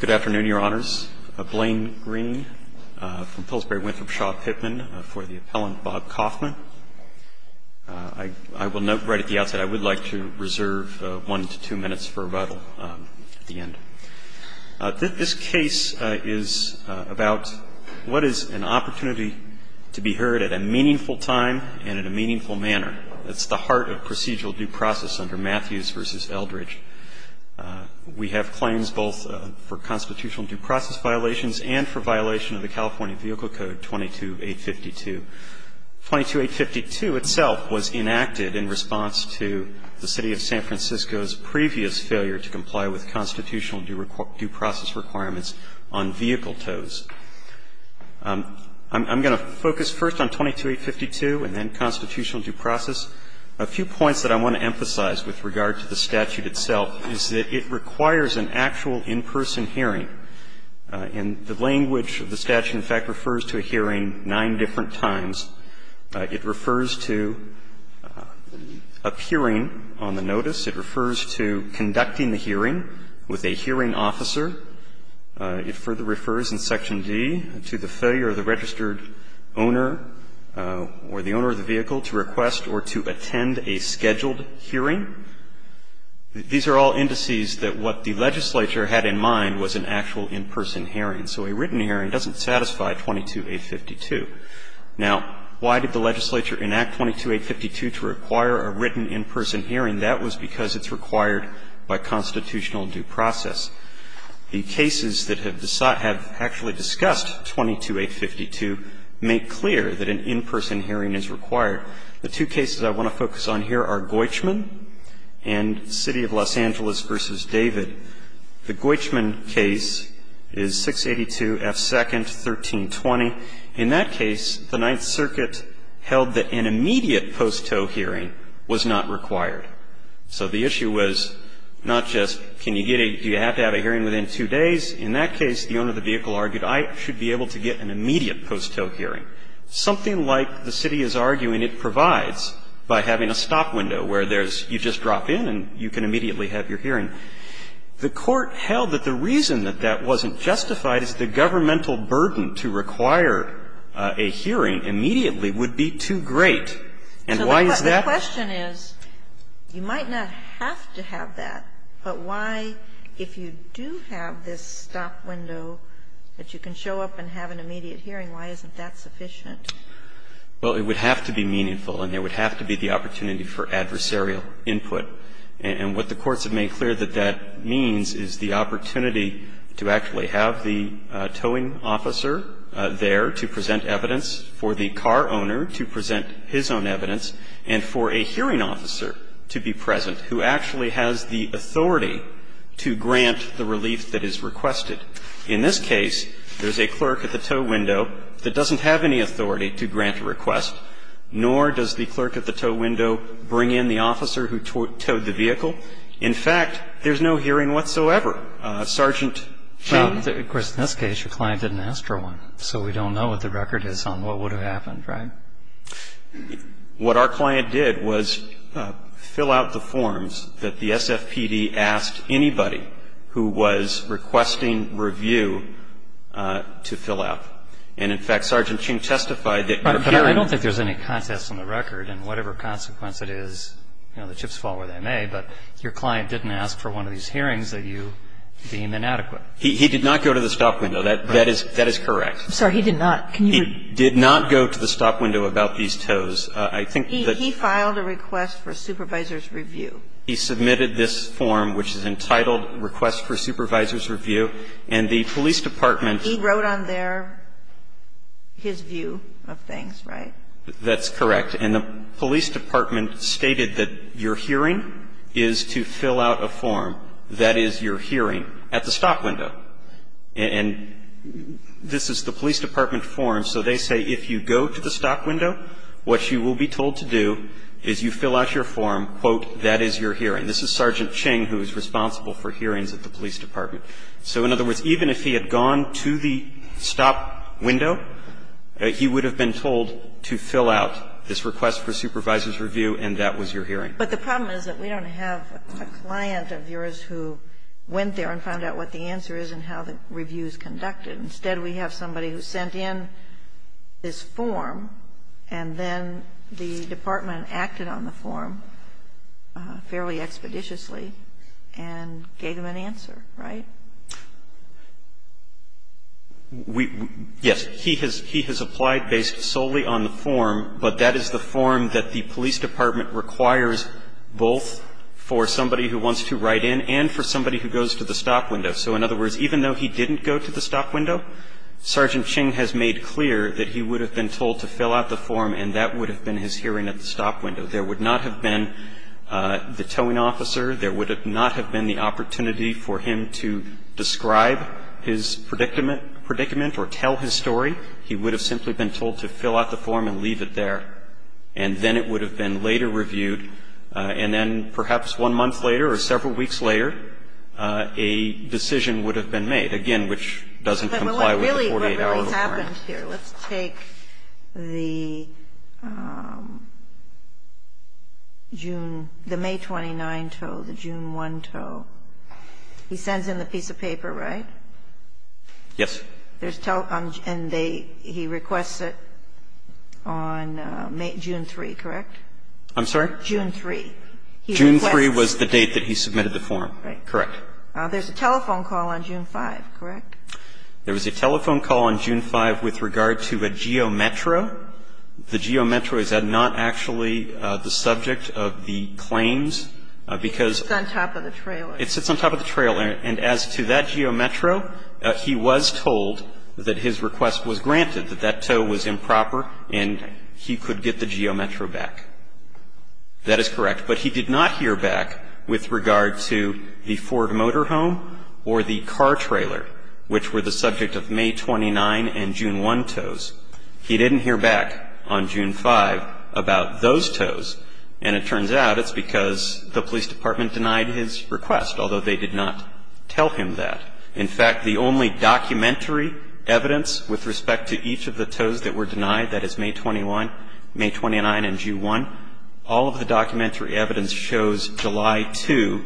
Good afternoon, your honors. Blaine Green from Pillsbury Winthrop Shaw Pittman for the appellant Bob Kaufman. I will note right at the outset I would like to reserve one to two minutes for rebuttal at the end. This case is about what is an opportunity to be heard at a meaningful time and in a meaningful manner. It's the heart of procedural due process under Matthews v. Eldridge. We have claims both for constitutional due process violations and for violation of the California Vehicle Code 22852. 22852 itself was enacted in response to the City of San Francisco's previous failure to comply with constitutional due process requirements on vehicle tows. I'm going to focus first on 22852 and then constitutional due process. A few points that I want to emphasize with regard to the statute itself is that it requires an actual in-person hearing. And the language of the statute, in fact, refers to a hearing nine different times. It refers to appearing on the notice. It refers to conducting the hearing with a hearing officer. It further refers in Section D to the failure of the registered owner or the owner of the vehicle to request or to attend a scheduled hearing. These are all indices that what the legislature had in mind was an actual in-person hearing. So a written hearing doesn't satisfy 22852. Now, why did the legislature enact 22852 to require a written in-person hearing? That was because it's required by constitutional due process. The cases that have actually discussed 22852 make clear that an in-person hearing is required. The two cases I want to focus on here are Goichman and City of Los Angeles v. David. The Goichman case is 682 F. 2nd, 1320. In that case, the Ninth Circuit held that an immediate post tow hearing was not required. So the issue was not just can you get a do you have to have a hearing within two days. In that case, the owner of the vehicle argued I should be able to get an immediate post tow hearing. Something like the city is arguing it provides by having a stop window where there's you just drop in and you can immediately have your hearing. The court held that the reason that that wasn't justified is the governmental burden to require a hearing immediately would be too great. And why is that? The question is, you might not have to have that, but why, if you do have this stop window that you can show up and have an immediate hearing, why isn't that sufficient? Well, it would have to be meaningful and there would have to be the opportunity for adversarial input. And what the courts have made clear that that means is the opportunity to actually have the towing officer there to present evidence for the car owner to present his own evidence and for a hearing officer to be present who actually has the authority to grant the relief that is requested. In this case, there's a clerk at the tow window that doesn't have any authority to grant a request, nor does the clerk at the tow window bring in the officer who towed the vehicle. In fact, there's no hearing whatsoever. Sergeant, can you? Well, of course, in this case, your client didn't ask for one, so we don't know what the record is on what would have happened, right? What our client did was fill out the forms that the SFPD asked anybody who was requesting review to fill out. And, in fact, Sergeant Ching testified that your hearing was not adequate. But I don't think there's any context on the record, and whatever consequence it is, you know, the chips fall where they may, but your client didn't ask for one of these hearings that you deem inadequate. He did not go to the stop window. That is correct. I'm sorry. He did not. He did not go to the stop window about these tows. I think that's He filed a request for supervisor's review. He submitted this form, which is entitled Request for Supervisor's Review, and the police department He wrote on there his view of things, right? That's correct. And the police department stated that your hearing is to fill out a form, that is, your hearing, at the stop window. And this is the police department form, so they say if you go to the stop window, what you will be told to do is you fill out your form, quote, that is your hearing. This is Sergeant Ching who is responsible for hearings at the police department. So, in other words, even if he had gone to the stop window, he would have been told to fill out this Request for Supervisor's Review, and that was your hearing. But the problem is that we don't have a client of yours who went there and found out what the answer is and how the review is conducted. Instead, we have somebody who sent in this form, and then the department acted on the form fairly expeditiously and gave him an answer, right? We yes. He has applied based solely on the form, but that is the form that the police department requires both for somebody who wants to write in and for somebody who goes to the stop window. So, in other words, even though he didn't go to the stop window, Sergeant Ching has made clear that he would have been told to fill out the form and that would have been his hearing at the stop window. There would not have been the towing officer. There would not have been the opportunity for him to describe his predicament or tell his story. He would have simply been told to fill out the form and leave it there. And then it would have been later reviewed, and then perhaps one month later or several weeks later, a decision would have been made, again, which doesn't comply with the 48-hour requirement. Kagan. Let's take the June the May 29 tow, the June 1 tow. He sends in the piece of paper, right? Yes. And he requests it on June 3, correct? I'm sorry? June 3. June 3 was the date that he submitted the form. Correct. There's a telephone call on June 5, correct? There was a telephone call on June 5 with regard to a geometro. The geometro is not actually the subject of the claims because It sits on top of the trailer. It sits on top of the trailer. And as to that geometro, he was told that his request was granted, that that tow was improper, and he could get the geometro back. That is correct. But he did not hear back with regard to the Ford Motorhome or the car trailer, which were the subject of May 29 and June 1 tows. He didn't hear back on June 5 about those tows. And it turns out it's because the police department denied his request, although they did not tell him that. In fact, the only documentary evidence with respect to each of the tows that were denied, that is May 21, May 29, and June 1, all of the documentary evidence shows July 2,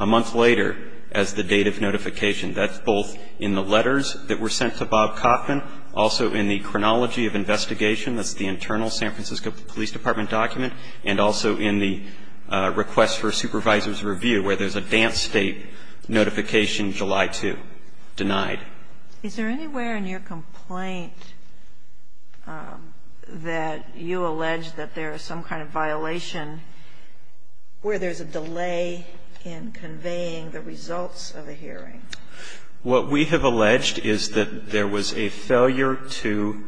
a month later, as the date of notification. That's both in the letters that were sent to Bob Kaufman, also in the chronology of investigation, that's the internal San Francisco Police Department document, and also in the request for a supervisor's review, where there's a dance state notification July 2, denied. Is there anywhere in your complaint that you allege that there is some kind of violation where there's a delay in conveying the results of a hearing? What we have alleged is that there was a failure to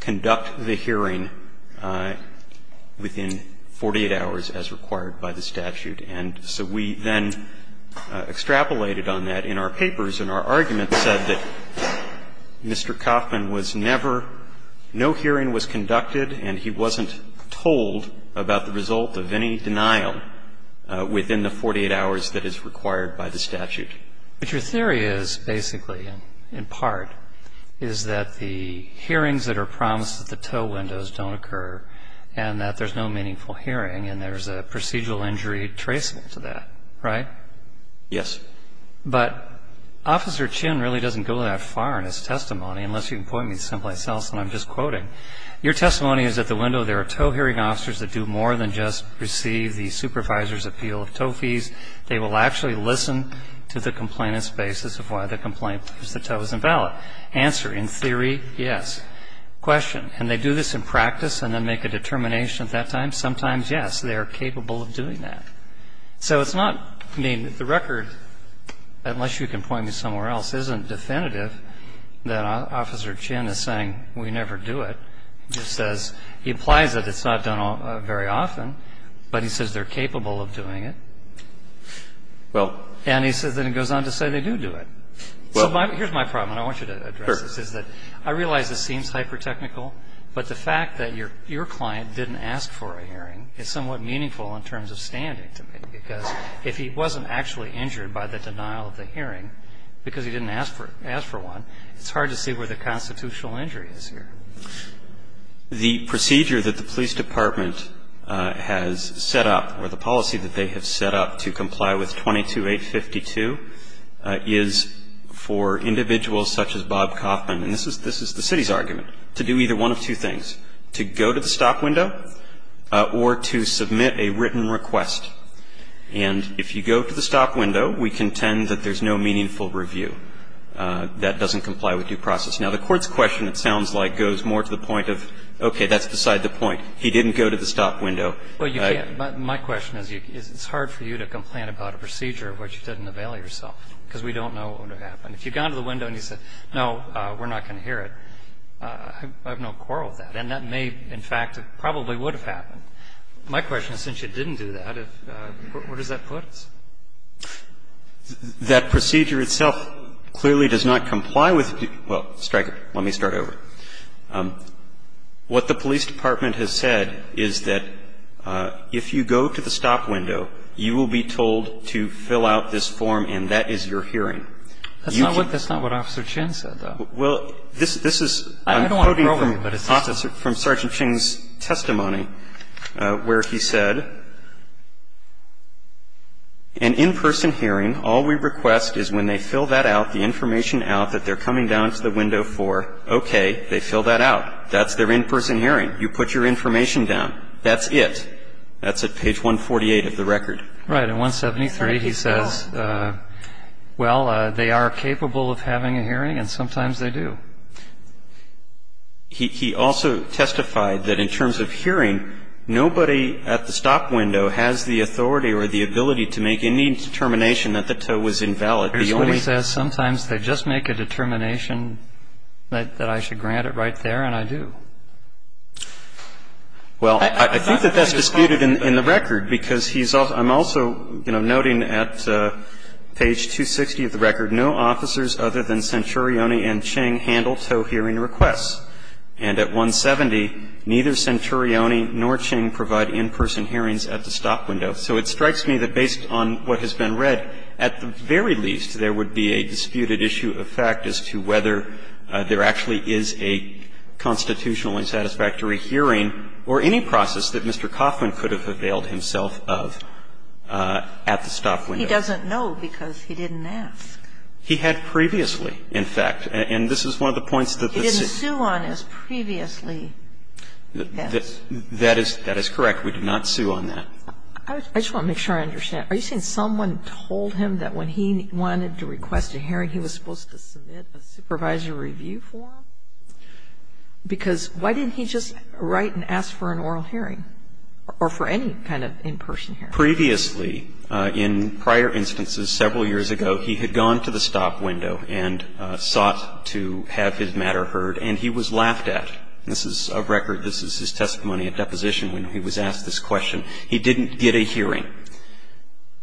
conduct the hearing within 48 hours, as required by the statute. And so we then extrapolated on that in our papers, and our argument said that Mr. Kaufman was never – no hearing was conducted, and he wasn't told about the result of any denial within the 48 hours that is required by the statute. But your theory is, basically, in part, is that the hearings that are promised at the tow windows don't occur, and that there's no meaningful hearing, and there's a procedural injury traceable to that, right? Yes. But Officer Chin really doesn't go that far in his testimony, unless you can point me someplace else, and I'm just quoting. Your testimony is at the window. There are tow hearing officers that do more than just receive the supervisor's appeal of tow fees. They will actually listen to the complainant's basis of why the complaint was that tow was invalid. Answer, in theory, yes. Question, can they do this in practice and then make a determination at that time? Sometimes, yes. They are capable of doing that. So it's not – I mean, the record, unless you can point me somewhere else, isn't definitive that Officer Chin is saying, we never do it. He just says – he implies that it's not done very often, but he says they're capable of doing it. Well. And he says – then he goes on to say they do do it. Well. Here's my problem, and I want you to address this, is that I realize this seems hyper-technical, but the fact that your client didn't ask for a hearing is somewhat meaningful in terms of standing to me, because if he wasn't actually injured by the denial of the hearing because he didn't ask for one, it's hard to see where the constitutional injury is here. The procedure that the police department has set up, or the policy that they have set up, to comply with 22-852 is for individuals such as Bob Kaufman – and this is the city's argument – to do either one of two things, to go to the stop window or to submit a written request. And if you go to the stop window, we contend that there's no meaningful review. That doesn't comply with due process. Now, the Court's question, it sounds like, goes more to the point of, okay, that's beside the point. He didn't go to the stop window. Well, you can't – my question is, it's hard for you to complain about a procedure in which you didn't avail yourself, because we don't know what would have happened. If you'd gone to the window and you said, no, we're not going to hear it, I have no quarrel with that, and that may, in fact, probably would have happened. My question is, since you didn't do that, where does that put us? That procedure itself clearly does not comply with – well, strike it. Let me start over. What the police department has said is that if you go to the stop window, you will be told to fill out this form, and that is your hearing. That's not what – that's not what Officer Chin said, though. Well, this is – I'm quoting from Sergeant Chin's testimony. Where he said, an in-person hearing, all we request is when they fill that out, the information out that they're coming down to the window for, okay, they fill that out. That's their in-person hearing. You put your information down. That's it. That's at page 148 of the record. Right. In 173, he says, well, they are capable of having a hearing, and sometimes they do. He also testified that in terms of hearing, nobody at the stop window has the authority or the ability to make any determination that the tow was invalid. He only – He says sometimes they just make a determination that I should grant it right there, and I do. Well, I think that that's disputed in the record, because he's – I'm also noting at page 260 of the record, no officers other than Centurione and Ching handle tow hearing requests. And at 170, neither Centurione nor Ching provide in-person hearings at the stop window. So it strikes me that based on what has been read, at the very least, there would be a disputed issue of fact as to whether there actually is a constitutional and satisfactory hearing or any process that Mr. Coffman could have availed himself of at the stop window. He didn't sue on his previous hearing. And he doesn't know because he didn't ask. He had previously, in fact. And this is one of the points that the suit – He didn't sue on his previously. That is correct. We did not sue on that. I just want to make sure I understand. Are you saying someone told him that when he wanted to request a hearing, he was supposed to submit a supervisor review form? Because why didn't he just write and ask for an oral hearing or for any kind of in-person hearing? Previously, in prior instances, several years ago, he had gone to the stop window and sought to have his matter heard. And he was laughed at. This is a record. This is his testimony at deposition when he was asked this question. He didn't get a hearing.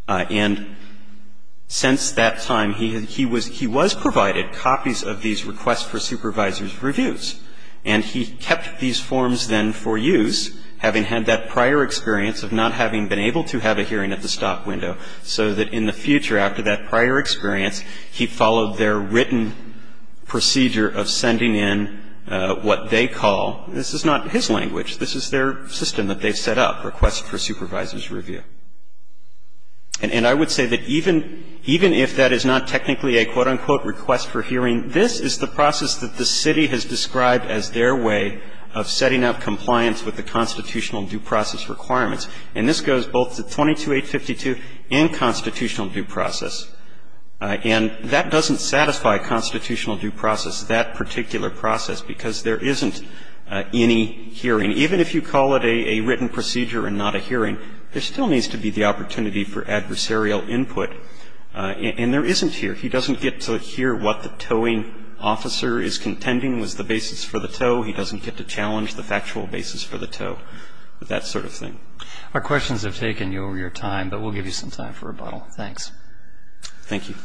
And since that time, he was provided copies of these requests for supervisor's reviews. And he kept these forms then for use, having had that prior experience of not having been able to have a hearing at the stop window, so that in the future after that prior experience, he followed their written procedure of sending in what they call – this is not his language. This is their system that they've set up, requests for supervisor's review. And I would say that even if that is not technically a quote, unquote, request for hearing, this is the process that the city has described as their way of setting up compliance with the constitutional due process requirements. And this goes both to 22-852 and constitutional due process. And that doesn't satisfy constitutional due process, that particular process, because there isn't any hearing. Even if you call it a written procedure and not a hearing, there still needs to be the opportunity for adversarial input. And there isn't here. He doesn't get to hear what the towing officer is contending was the basis for the tow. He doesn't get to challenge the factual basis for the tow, that sort of thing. Our questions have taken you over your time, but we'll give you some time for rebuttal. Thanks. Thank you.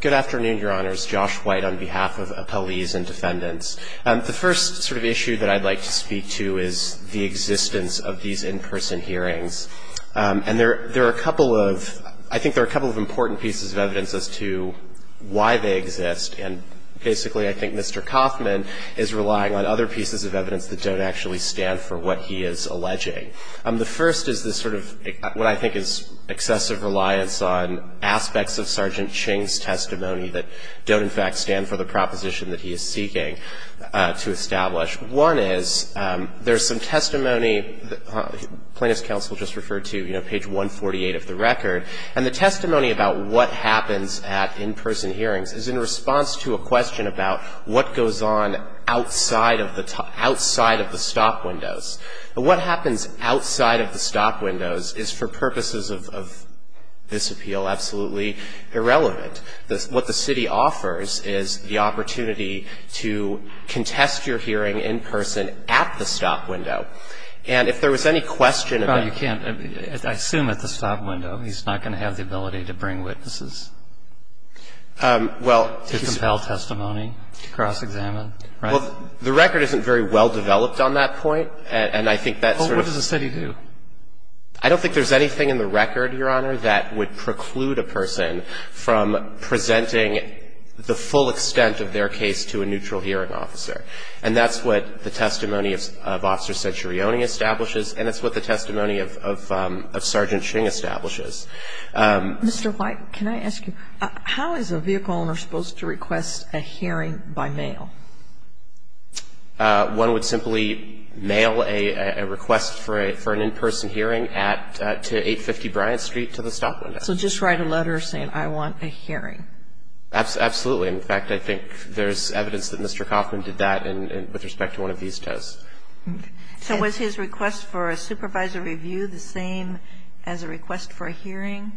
Good afternoon, Your Honors. Josh White on behalf of appellees and defendants. The first sort of issue that I'd like to speak to is the existence of these in-person hearings. And there are a couple of, I think there are a couple of important pieces of evidence as to why they exist. And basically, I think Mr. Kaufman is relying on other pieces of evidence that don't actually stand for what he is alleging. The first is this sort of what I think is excessive reliance on aspects of Sergeant Ching's testimony that don't in fact stand for the proposition that he is seeking to establish. One is there's some testimony plaintiff's counsel just referred to, you know, page 148 of the record. And the testimony about what happens at in-person hearings is in response to a question about what goes on outside of the stop windows. But what happens outside of the stop windows is, for purposes of this appeal, absolutely irrelevant. What the city offers is the opportunity to contest your hearing in person at the stop window. And if there was any question about you can't, I assume at the stop window, he's not going to have the ability to bring witnesses to compel testimony, to cross-examine, right? The record isn't very well developed on that point. And I think that's sort of What does the study do? I don't think there's anything in the record, Your Honor, that would preclude a person from presenting the full extent of their case to a neutral hearing officer. And that's what the testimony of Officer Centurione establishes, and it's what the testimony of Sergeant Ching establishes. Mr. White, can I ask you, how is a vehicle owner supposed to request a hearing by mail? One would simply mail a request for an in-person hearing to 850 Bryant Street to the stop window. So just write a letter saying, I want a hearing? Absolutely. In fact, I think there's evidence that Mr. Kaufman did that with respect to one of these tests. So was his request for a supervisor review the same as a request for a hearing?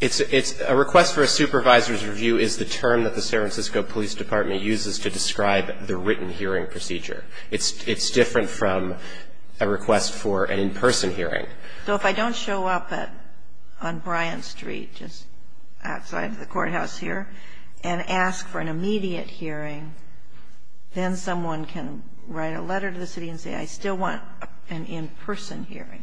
It's a request for a supervisor's review is the term that the San Francisco Police Department uses to describe the written hearing procedure. It's different from a request for an in-person hearing. So if I don't show up on Bryant Street, just outside the courthouse here, and ask for an immediate hearing, then someone can write a letter to the city and say, I still want an in-person hearing?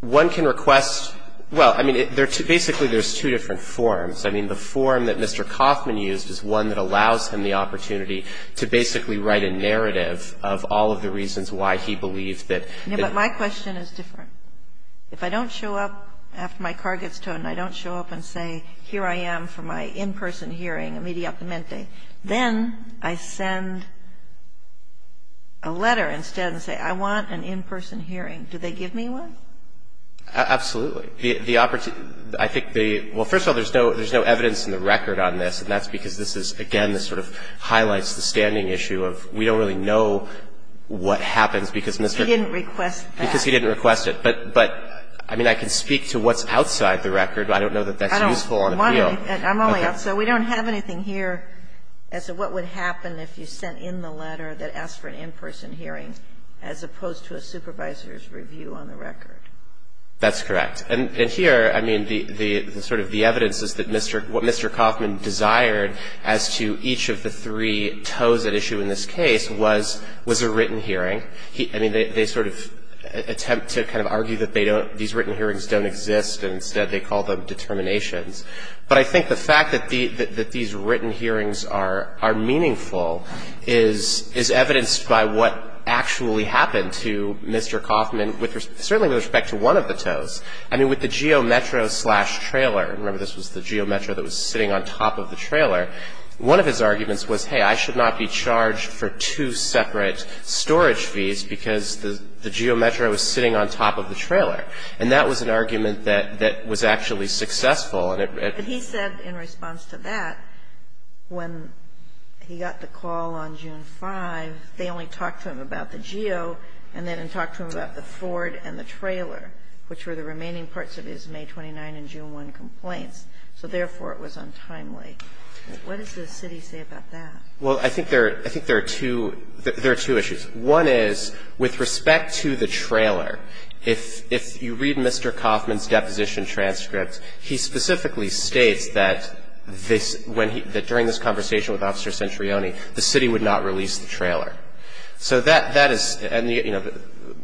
One can request – well, I mean, basically there's two different forms. I mean, the form that Mr. Kaufman used is one that allows him the opportunity to basically write a narrative of all of the reasons why he believes that – Yeah, but my question is different. If I don't show up after my car gets towed, and I don't show up and say, here I am for my in-person hearing, immediatemente, then I send a letter instead and say, I want an in-person hearing. Do they give me one? Absolutely. The opportunity – I think the – well, first of all, there's no evidence in the record on this, and that's because this is, again, this sort of highlights the standing issue of we don't really know what happens because Mr. – He didn't request that. Because he didn't request it. But, I mean, I can speak to what's outside the record, but I don't know that that's useful on appeal. I'm only – so we don't have anything here as to what would happen if you sent in the letter that asked for an in-person hearing, as opposed to a supervisor's review on the record. That's correct. And here, I mean, the – sort of the evidence is that Mr. – what Mr. Kaufman desired as to each of the three tows at issue in this case was a written hearing. I mean, they sort of attempt to kind of argue that they don't – these written hearings don't exist, and instead they call them determinations. But I think the fact that these written hearings are meaningful is evidenced by what actually happened to Mr. Kaufman, certainly with respect to one of the two tows. I mean, with the GeoMetro slash trailer – remember, this was the GeoMetro that was sitting on top of the trailer – one of his arguments was, hey, I should not be charged for two separate storage fees because the GeoMetro was sitting on top of the trailer. And that was an argument that was actually successful, and it – But he said in response to that, when he got the call on June 5, they only talked to him about the Geo and then talked to him about the Ford and the trailer, which were the remaining parts of his May 29 and June 1 complaints. So therefore, it was untimely. What does the city say about that? Well, I think there – I think there are two – there are two issues. One is, with respect to the trailer, if you read Mr. Kaufman's deposition transcript, he specifically states that this – when he – that during this conversation with Officer Centrioni, the city would not release the trailer. So that – that is – and the – you know,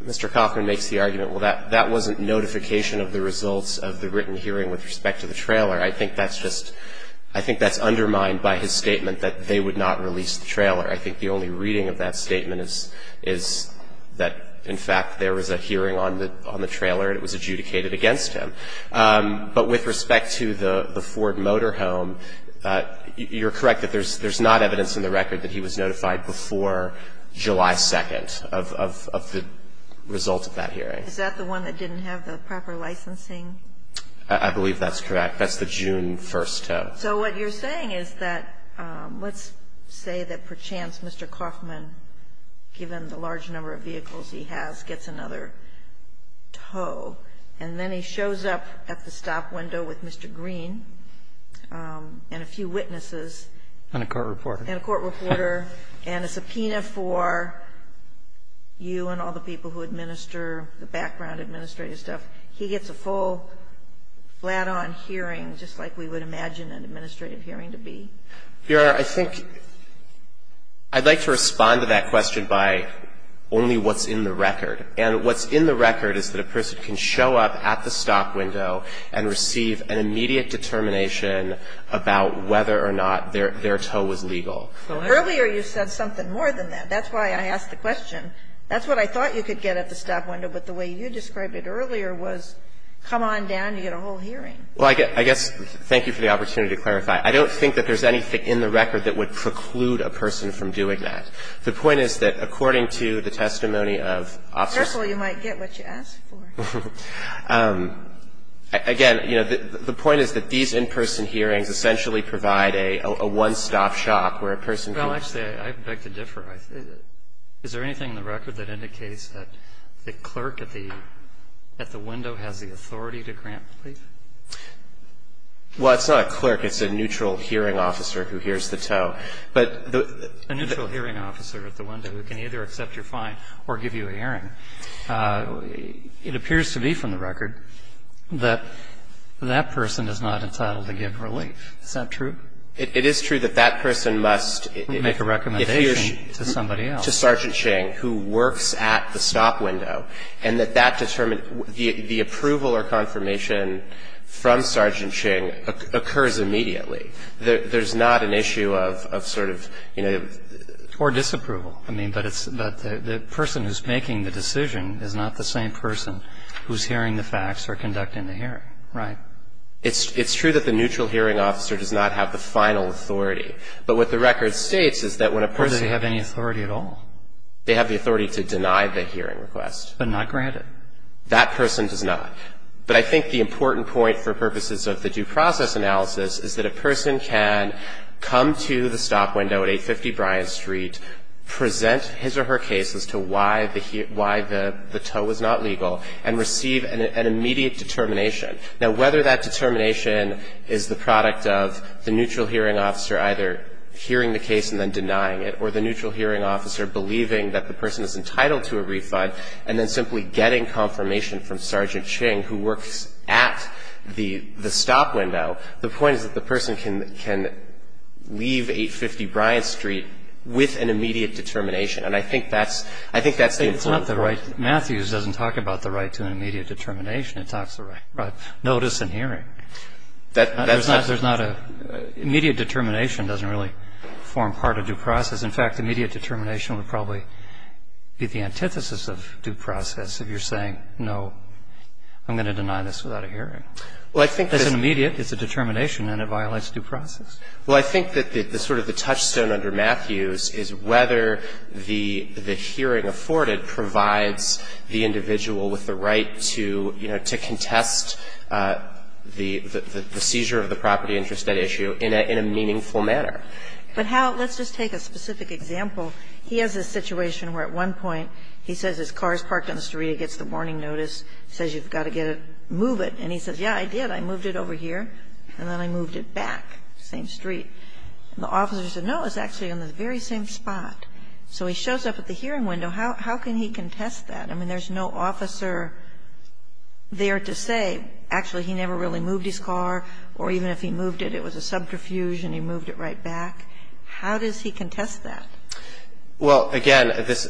Mr. Kaufman makes the argument, well, that – that wasn't notification of the results of the written hearing with respect to the trailer. I think that's just – I think that's undermined by his statement that they would not release the trailer. I think the only reading of that statement is – is that, in fact, there was a hearing on the – on the trailer, and it was adjudicated against him. But with respect to the Ford Motorhome, you're correct that there's – there's not evidence in the record that he was notified before July 2nd of – of – of the results of that hearing. Is that the one that didn't have the proper licensing? I believe that's correct. That's the June 1st tow. So what you're saying is that – let's say that, perchance, Mr. Kaufman, given the large number of vehicles he has, gets another tow, and then he shows up at the stop window with Mr. Green and a few witnesses. And a court reporter. And a court reporter. And a subpoena for you and all the people who administer the background administrative stuff. He gets a full, flat-on hearing, just like we would imagine an administrative hearing to be? Your Honor, I think – I'd like to respond to that question by only what's in the record. And what's in the record is that a person can show up at the stop window and receive an immediate determination about whether or not their – their tow was legal. Earlier, you said something more than that. That's why I asked the question. That's what I thought you could get at the stop window. But the way you described it earlier was, come on down, you get a whole hearing. Well, I guess – thank you for the opportunity to clarify. I don't think that there's anything in the record that would preclude a person from doing that. The point is that, according to the testimony of officers – Careful, you might get what you ask for. Again, you know, the point is that these in-person hearings essentially provide a – a one-stop shop where a person can – Well, actually, I beg to differ. Is there anything in the record that indicates that the clerk at the – at the window has the authority to grant a plea? Well, it's not a clerk. It's a neutral hearing officer who hears the tow. But the – A neutral hearing officer at the window who can either accept your fine or give you a hearing. It appears to be from the record that that person is not entitled to give relief. Is that true? It is true that that person must – Make a recommendation to somebody else. To Sergeant Ching, who works at the stop window. And that that determines – the approval or confirmation from Sergeant Ching occurs immediately. There's not an issue of sort of, you know – Or disapproval. I mean, but it's – the person who's making the decision is not the same person who's hearing the facts or conducting the hearing. Right. It's true that the neutral hearing officer does not have the final authority. But what the record states is that when a person – Or does he have any authority at all? They have the authority to deny the hearing request. But not grant it? That person does not. But I think the important point for purposes of the due process analysis is that a person can come to the stop window at 850 Bryant Street, present his or her case as to why the tow was not legal, and receive an immediate determination. Now, whether that determination is the product of the neutral hearing officer either hearing the case and then denying it, or the neutral hearing officer believing that the person is entitled to a refund, and then simply getting confirmation from Sergeant Ching, who works at the stop window, the point is that the person can leave 850 Bryant Street with an immediate determination. And I think that's the important point. It's not the right – Matthews doesn't talk about the right to an immediate determination. It talks about notice and hearing. That's not – There's not a – immediate determination doesn't really form part of due process. In fact, immediate determination would probably be the antithesis of due process if you're saying, no, I'm going to deny this without a hearing. Well, I think there's – It's a determination and it violates due process. Well, I think that the sort of the touchstone under Matthews is whether the hearing afforded provides the individual with the right to, you know, to contest the seizure of the property interest at issue in a meaningful manner. But how – let's just take a specific example. He has a situation where at one point he says his car is parked on the street, he gets the warning notice, says you've got to get it, move it, and he says, yeah, I did, I moved it over here and then I moved it back, same street. And the officer said, no, it's actually on the very same spot. So he shows up at the hearing window. How can he contest that? I mean, there's no officer there to say, actually, he never really moved his car or even if he moved it, it was a subterfuge and he moved it right back. How does he contest that? Well, again, this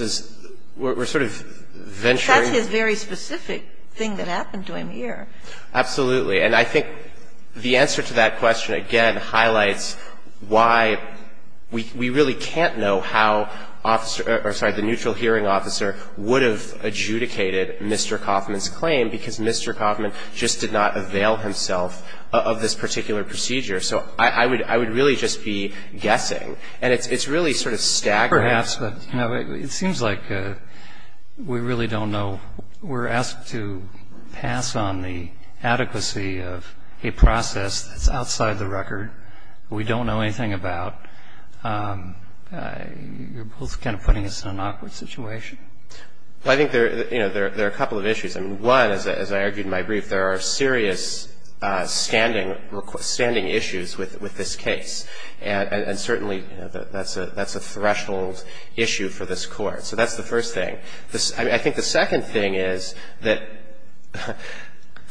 is – we're sort of venturing – That's his very specific thing that happened to him here. Absolutely. And I think the answer to that question, again, highlights why we really can't know how officer – or, sorry, the neutral hearing officer would have adjudicated Mr. Kaufman's claim because Mr. Kaufman just did not avail himself of this particular procedure. So I would really just be guessing. And it's really sort of staggering. It seems like we really don't know. We're asked to pass on the adequacy of a process that's outside the record. We don't know anything about. You're both kind of putting us in an awkward situation. Well, I think there are a couple of issues. One, as I argued in my brief, there are serious standing issues with this case. And certainly that's a threshold issue for this Court. So that's the first thing. I think the second thing is that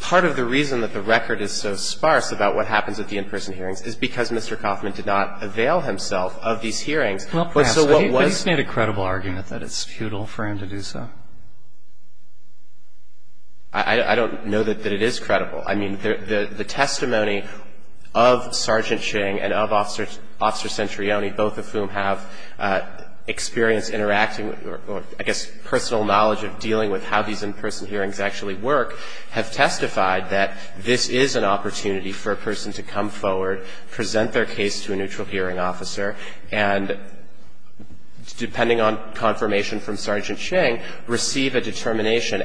part of the reason that the record is so sparse about what happens at the in-person hearings is because Mr. Kaufman did not avail himself of these hearings. Well, perhaps. But he's made a credible argument that it's futile for him to do so. I don't know that it is credible. I mean, the testimony of Sergeant Ching and of Officer Centrione, both of whom have experience interacting or I guess personal knowledge of dealing with how these in-person hearings actually work, have testified that this is an opportunity for a person to come forward, present their case to a neutral hearing officer, and depending on confirmation from Sergeant Ching, receive a determination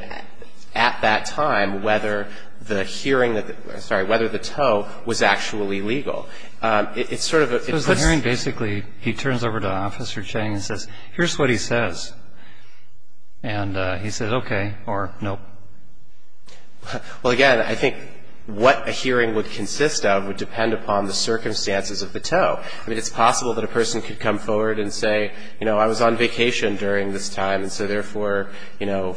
at that time whether the hearing that the – sorry, whether the tow was actually legal. It's sort of a – Because the hearing basically, he turns over to Officer Ching and says, here's what he says. And he says, okay, or nope. Well, again, I think what a hearing would consist of would depend upon the circumstances of the tow. I mean, it's possible that a person could come forward and say, you know, I was on vacation during this time. And so therefore, you know,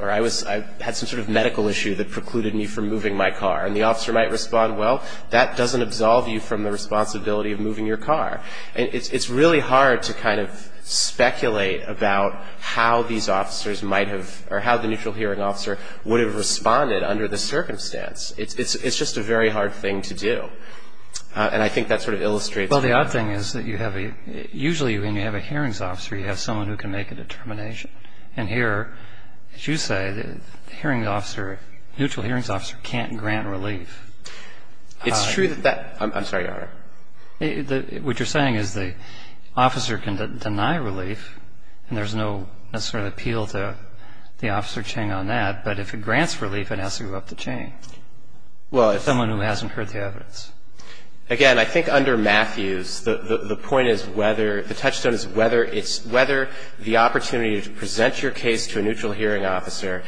or I was – I had some sort of medical issue that precluded me from moving my car. And the officer might respond, well, that doesn't absolve you from the responsibility of moving your car. And it's really hard to kind of speculate about how these officers might have – or how the neutral hearing officer would have responded under the circumstance. It's just a very hard thing to do. And I think that sort of illustrates – Well, the odd thing is that you have a – usually when you have a hearings officer, you have someone who can make a determination. And here, as you say, the hearing officer – neutral hearings officer can't grant relief. It's true that that – I'm sorry, Your Honor. What you're saying is the officer can deny relief, and there's no sort of appeal to the Officer Ching on that. But if it grants relief, it has to go up the chain. Well, if – Someone who hasn't heard the evidence. Again, I think under Matthews, the point is whether – the touchstone is whether it's – whether the opportunity to present your case to a neutral hearing officer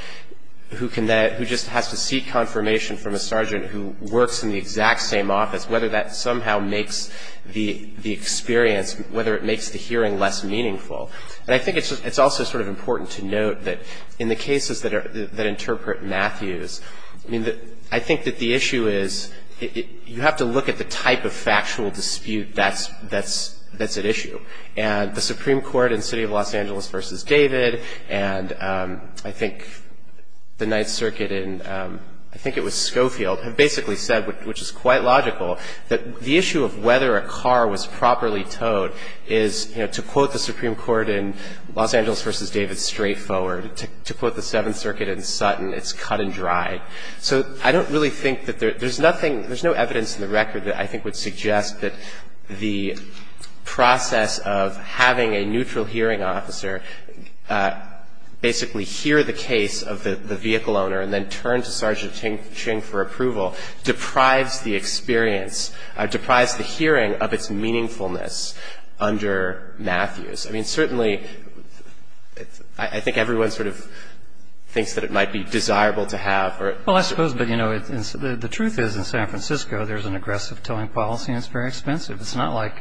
who can – who just has to seek confirmation from a sergeant who works in the exact same office, whether that somehow makes the experience – whether it makes the hearing less meaningful. And I think it's also sort of important to note that in the cases that interpret Matthews, I mean, I think that the issue is you have to look at the type of factual dispute that's at issue. And the Supreme Court in City of Los Angeles v. David and I think the Ninth Circuit in – I think it was Schofield – have basically said, which is quite logical, that the issue of whether a car was properly towed is, you know, to quote the Supreme Court in Los Angeles v. David, straightforward. To quote the Seventh Circuit in Sutton, it's cut and dry. So I don't really think that there – there's nothing – there's no evidence in the record that I think would suggest that the process of having a neutral hearing officer basically hear the case of the vehicle owner and then turn to Sergeant Ching for approval deprives the experience – deprives the hearing of its meaningfulness under Matthews. I mean, certainly, I think everyone sort of thinks that it might be desirable to have – Well, I suppose, but, you know, the truth is in San Francisco there's an aggressive towing policy and it's very expensive. It's not like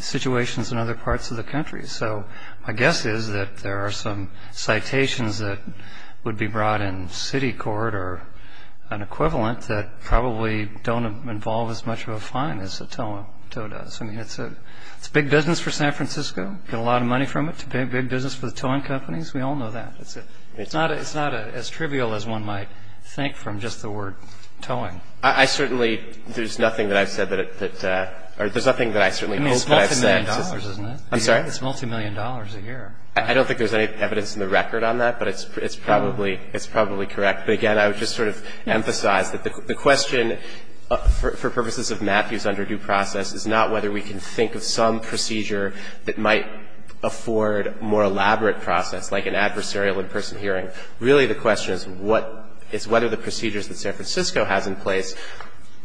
situations in other parts of the country. So my guess is that there are some citations that would be brought in city court or an equivalent that probably don't involve as much of a fine as a tow does. I mean, it's a big business for San Francisco. You get a lot of money from it. It's a big, big business for the towing companies. We all know that. It's not as trivial as one might think from just the word towing. I certainly – there's nothing that I've said that – or there's nothing that I certainly hope that I've said. I mean, it's multimillion dollars, isn't it? I'm sorry? It's multimillion dollars a year. I don't think there's any evidence in the record on that, but it's probably – it's probably correct. But, again, I would just sort of emphasize that the question for purposes of Matthews' is not whether we can think of some procedure that might afford more elaborate process, like an adversarial in-person hearing. Really, the question is what – is whether the procedures that San Francisco has in place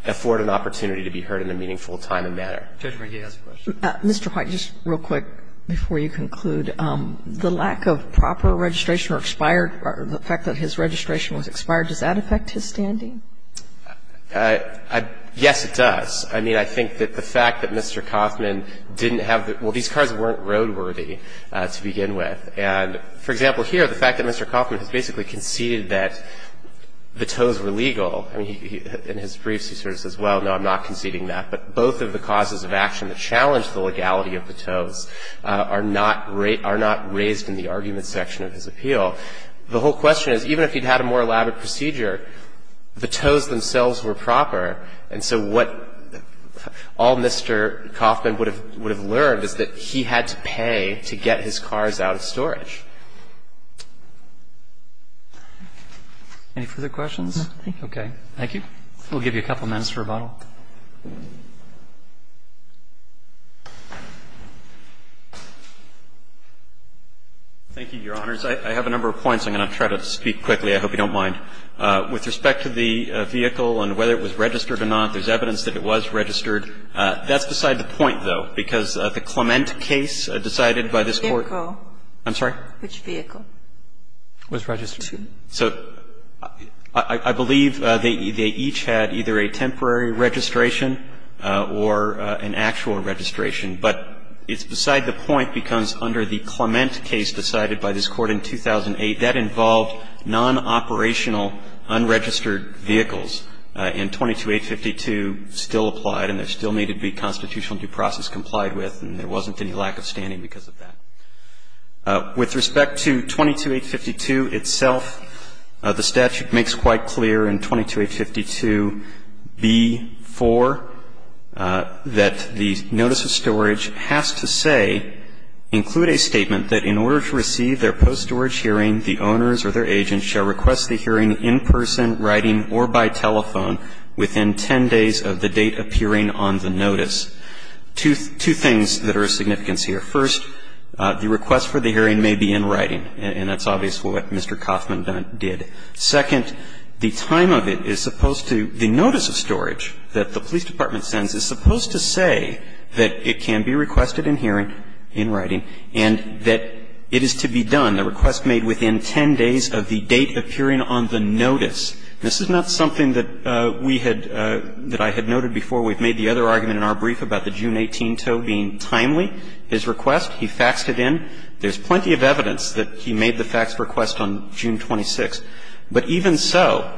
afford an opportunity to be heard in a meaningful time and manner. Roberts. Mr. White, just real quick before you conclude. The lack of proper registration or expired – or the fact that his registration was expired, does that affect his standing? Yes, it does. I mean, I think that the fact that Mr. Coffman didn't have – well, these cars weren't roadworthy to begin with. And, for example, here, the fact that Mr. Coffman has basically conceded that the tows were legal. I mean, in his briefs, he sort of says, well, no, I'm not conceding that. But both of the causes of action that challenged the legality of the tows are not raised in the argument section of his appeal. The whole question is, even if he'd had a more elaborate procedure, the tows themselves were proper. And so what all Mr. Coffman would have learned is that he had to pay to get his cars out of storage. Any further questions? No, thank you. Okay. Thank you. We'll give you a couple minutes for rebuttal. Thank you, Your Honors. I have a number of points. I'm going to try to speak quickly. I hope you don't mind. With respect to the vehicle and whether it was registered or not, there's evidence that it was registered. That's beside the point, though, because the Clement case decided by this Court Which vehicle? I'm sorry? Which vehicle? Was registered. So I believe they each had either a temporary registration or an actual registration. But it's beside the point because under the Clement case decided by this Court in 2008, that involved non-operational unregistered vehicles. And 22852 still applied, and there still needed to be constitutional due process complied with, and there wasn't any lack of standing because of that. With respect to 22852 itself, the statute makes quite clear in 22852b-4 that the notice of storage has to say, include a statement that in order to receive their post-storage hearing, the owners or their agents shall request the hearing in person, writing or by telephone within 10 days of the date appearing on the notice. Two things that are of significance here. First, the request for the hearing may be in writing, and that's obvious what Mr. Coffman did. Second, the time of it is supposed to the notice of storage that the police department sends is supposed to say that it can be requested in hearing, in writing, and that it is to be done, a request made within 10 days of the date appearing on the notice. This is not something that we had, that I had noted before. We've made the other argument in our brief about the June 18 tow being timely. His request, he faxed it in. There's plenty of evidence that he made the faxed request on June 26. But even so,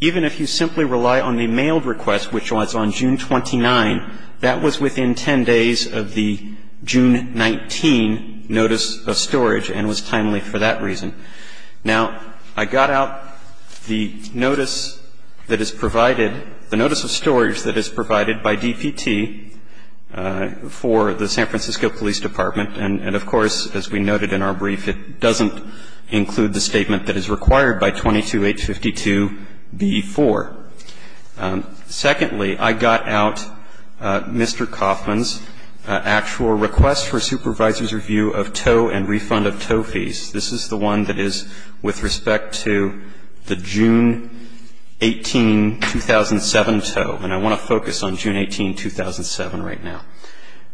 even if you simply rely on the mailed request, which was on June 29, that was within 10 days of the June 19 notice of storage and was timely for that reason. Now, I got out the notice that is provided, the notice of storage that is provided by DPT for the San Francisco Police Department, and of course, as we noted in our brief, it doesn't include the statement that is required by 22-852-B4. Secondly, I got out Mr. Coffman's actual request for supervisor's review of tow and refund of tow fees. This is the one that is with respect to the June 18, 2007 tow, and I want to focus on June 18, 2007 right now.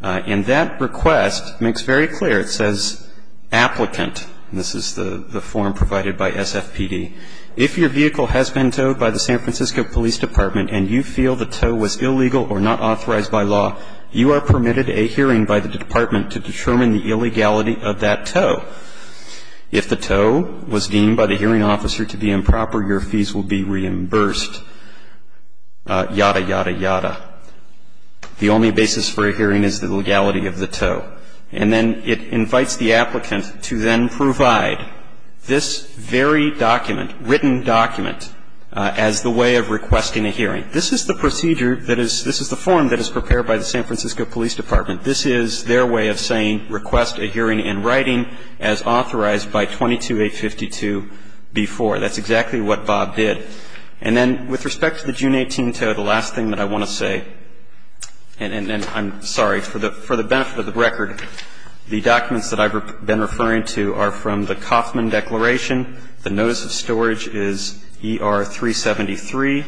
And that request makes very clear. It says, applicant, and this is the form provided by SFPD, if your vehicle has been towed by the San Francisco Police Department and you feel the tow was illegal or not authorized by law, you are permitted a hearing by the department to determine the illegality of that tow. If the tow was deemed by the hearing officer to be improper, your fees will be reimbursed, yada, yada, yada. The only basis for a hearing is the legality of the tow. And then it invites the applicant to then provide this very document, written document, as the way of requesting a hearing. This is the procedure that is the form that is prepared by the San Francisco Police Department. This is their way of saying request a hearing in writing as authorized by 22-852-B4. That's exactly what Bob did. And then with respect to the June 18 tow, the last thing that I want to say, and I'm sorry, for the benefit of the record, the documents that I've been referring to are from the Coffman Declaration. The Notice of Storage is ER-373.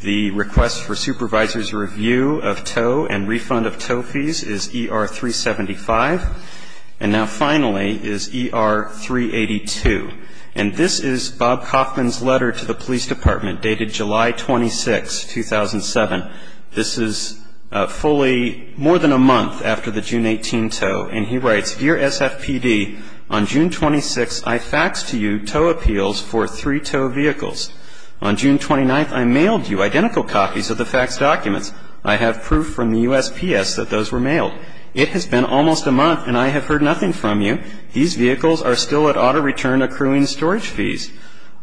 The Request for Supervisor's Review of Tow and Refund of Tow Fees is ER-375. And now finally is ER-382. And this is Bob Coffman's letter to the police department dated July 26, 2007. This is fully more than a month after the June 18 tow. And he writes, Dear SFPD, on June 26, I faxed to you tow appeals for three-tow vehicles. On June 29, I mailed you identical copies of the faxed documents. I have proof from the USPS that those were mailed. It has been almost a month and I have heard nothing from you. These vehicles are still at auto return accruing storage fees.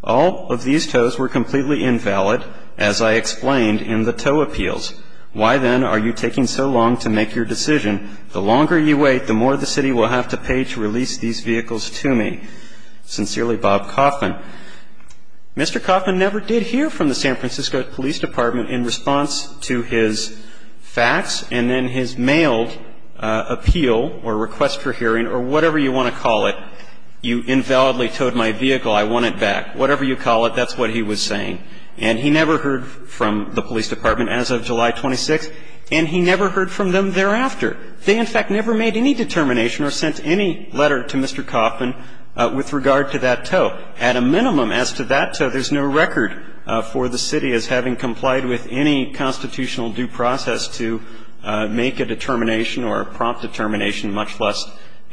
All of these tows were completely invalid, as I explained in the tow appeals. Why, then, are you taking so long to make your decision? The longer you wait, the more the city will have to pay to release these vehicles to me. Sincerely, Bob Coffman. Mr. Coffman never did hear from the San Francisco Police Department in response to his fax and then his mailed appeal or request for hearing or whatever you want to call it. You invalidly towed my vehicle. I want it back. Whatever you call it, that's what he was saying. And he never heard from the police department as of July 26, and he never heard from them thereafter. They, in fact, never made any determination or sent any letter to Mr. Coffman with regard to that tow. At a minimum, as to that tow, there's no record for the city as having complied with any constitutional due process to make a determination or a prompt determination, much less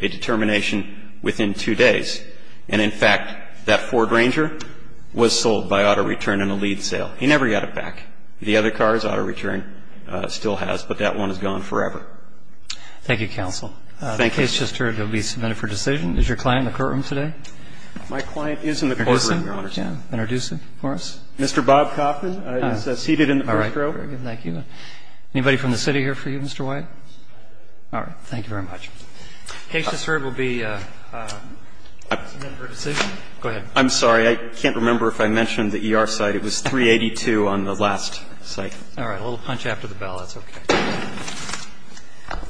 a determination within two days. And in fact, that Ford Ranger was sold by auto return in a lead sale. He never got it back. The other cars, auto return still has, but that one is gone forever. Thank you, counsel. Thank you. The case just heard will be submitted for decision. Is your client in the courtroom today? My client is in the courtroom, Your Honor. Introduce him. Introduce him for us. Mr. Bob Coffman is seated in the first row. All right. Thank you. Anybody from the city here for you, Mr. White? All right. Thank you very much. The case just heard will be submitted for decision. Go ahead. I'm sorry. I can't remember if I mentioned the ER site. It was 382 on the last site. All right. A little punch after the bell. That's okay.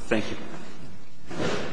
Thank you.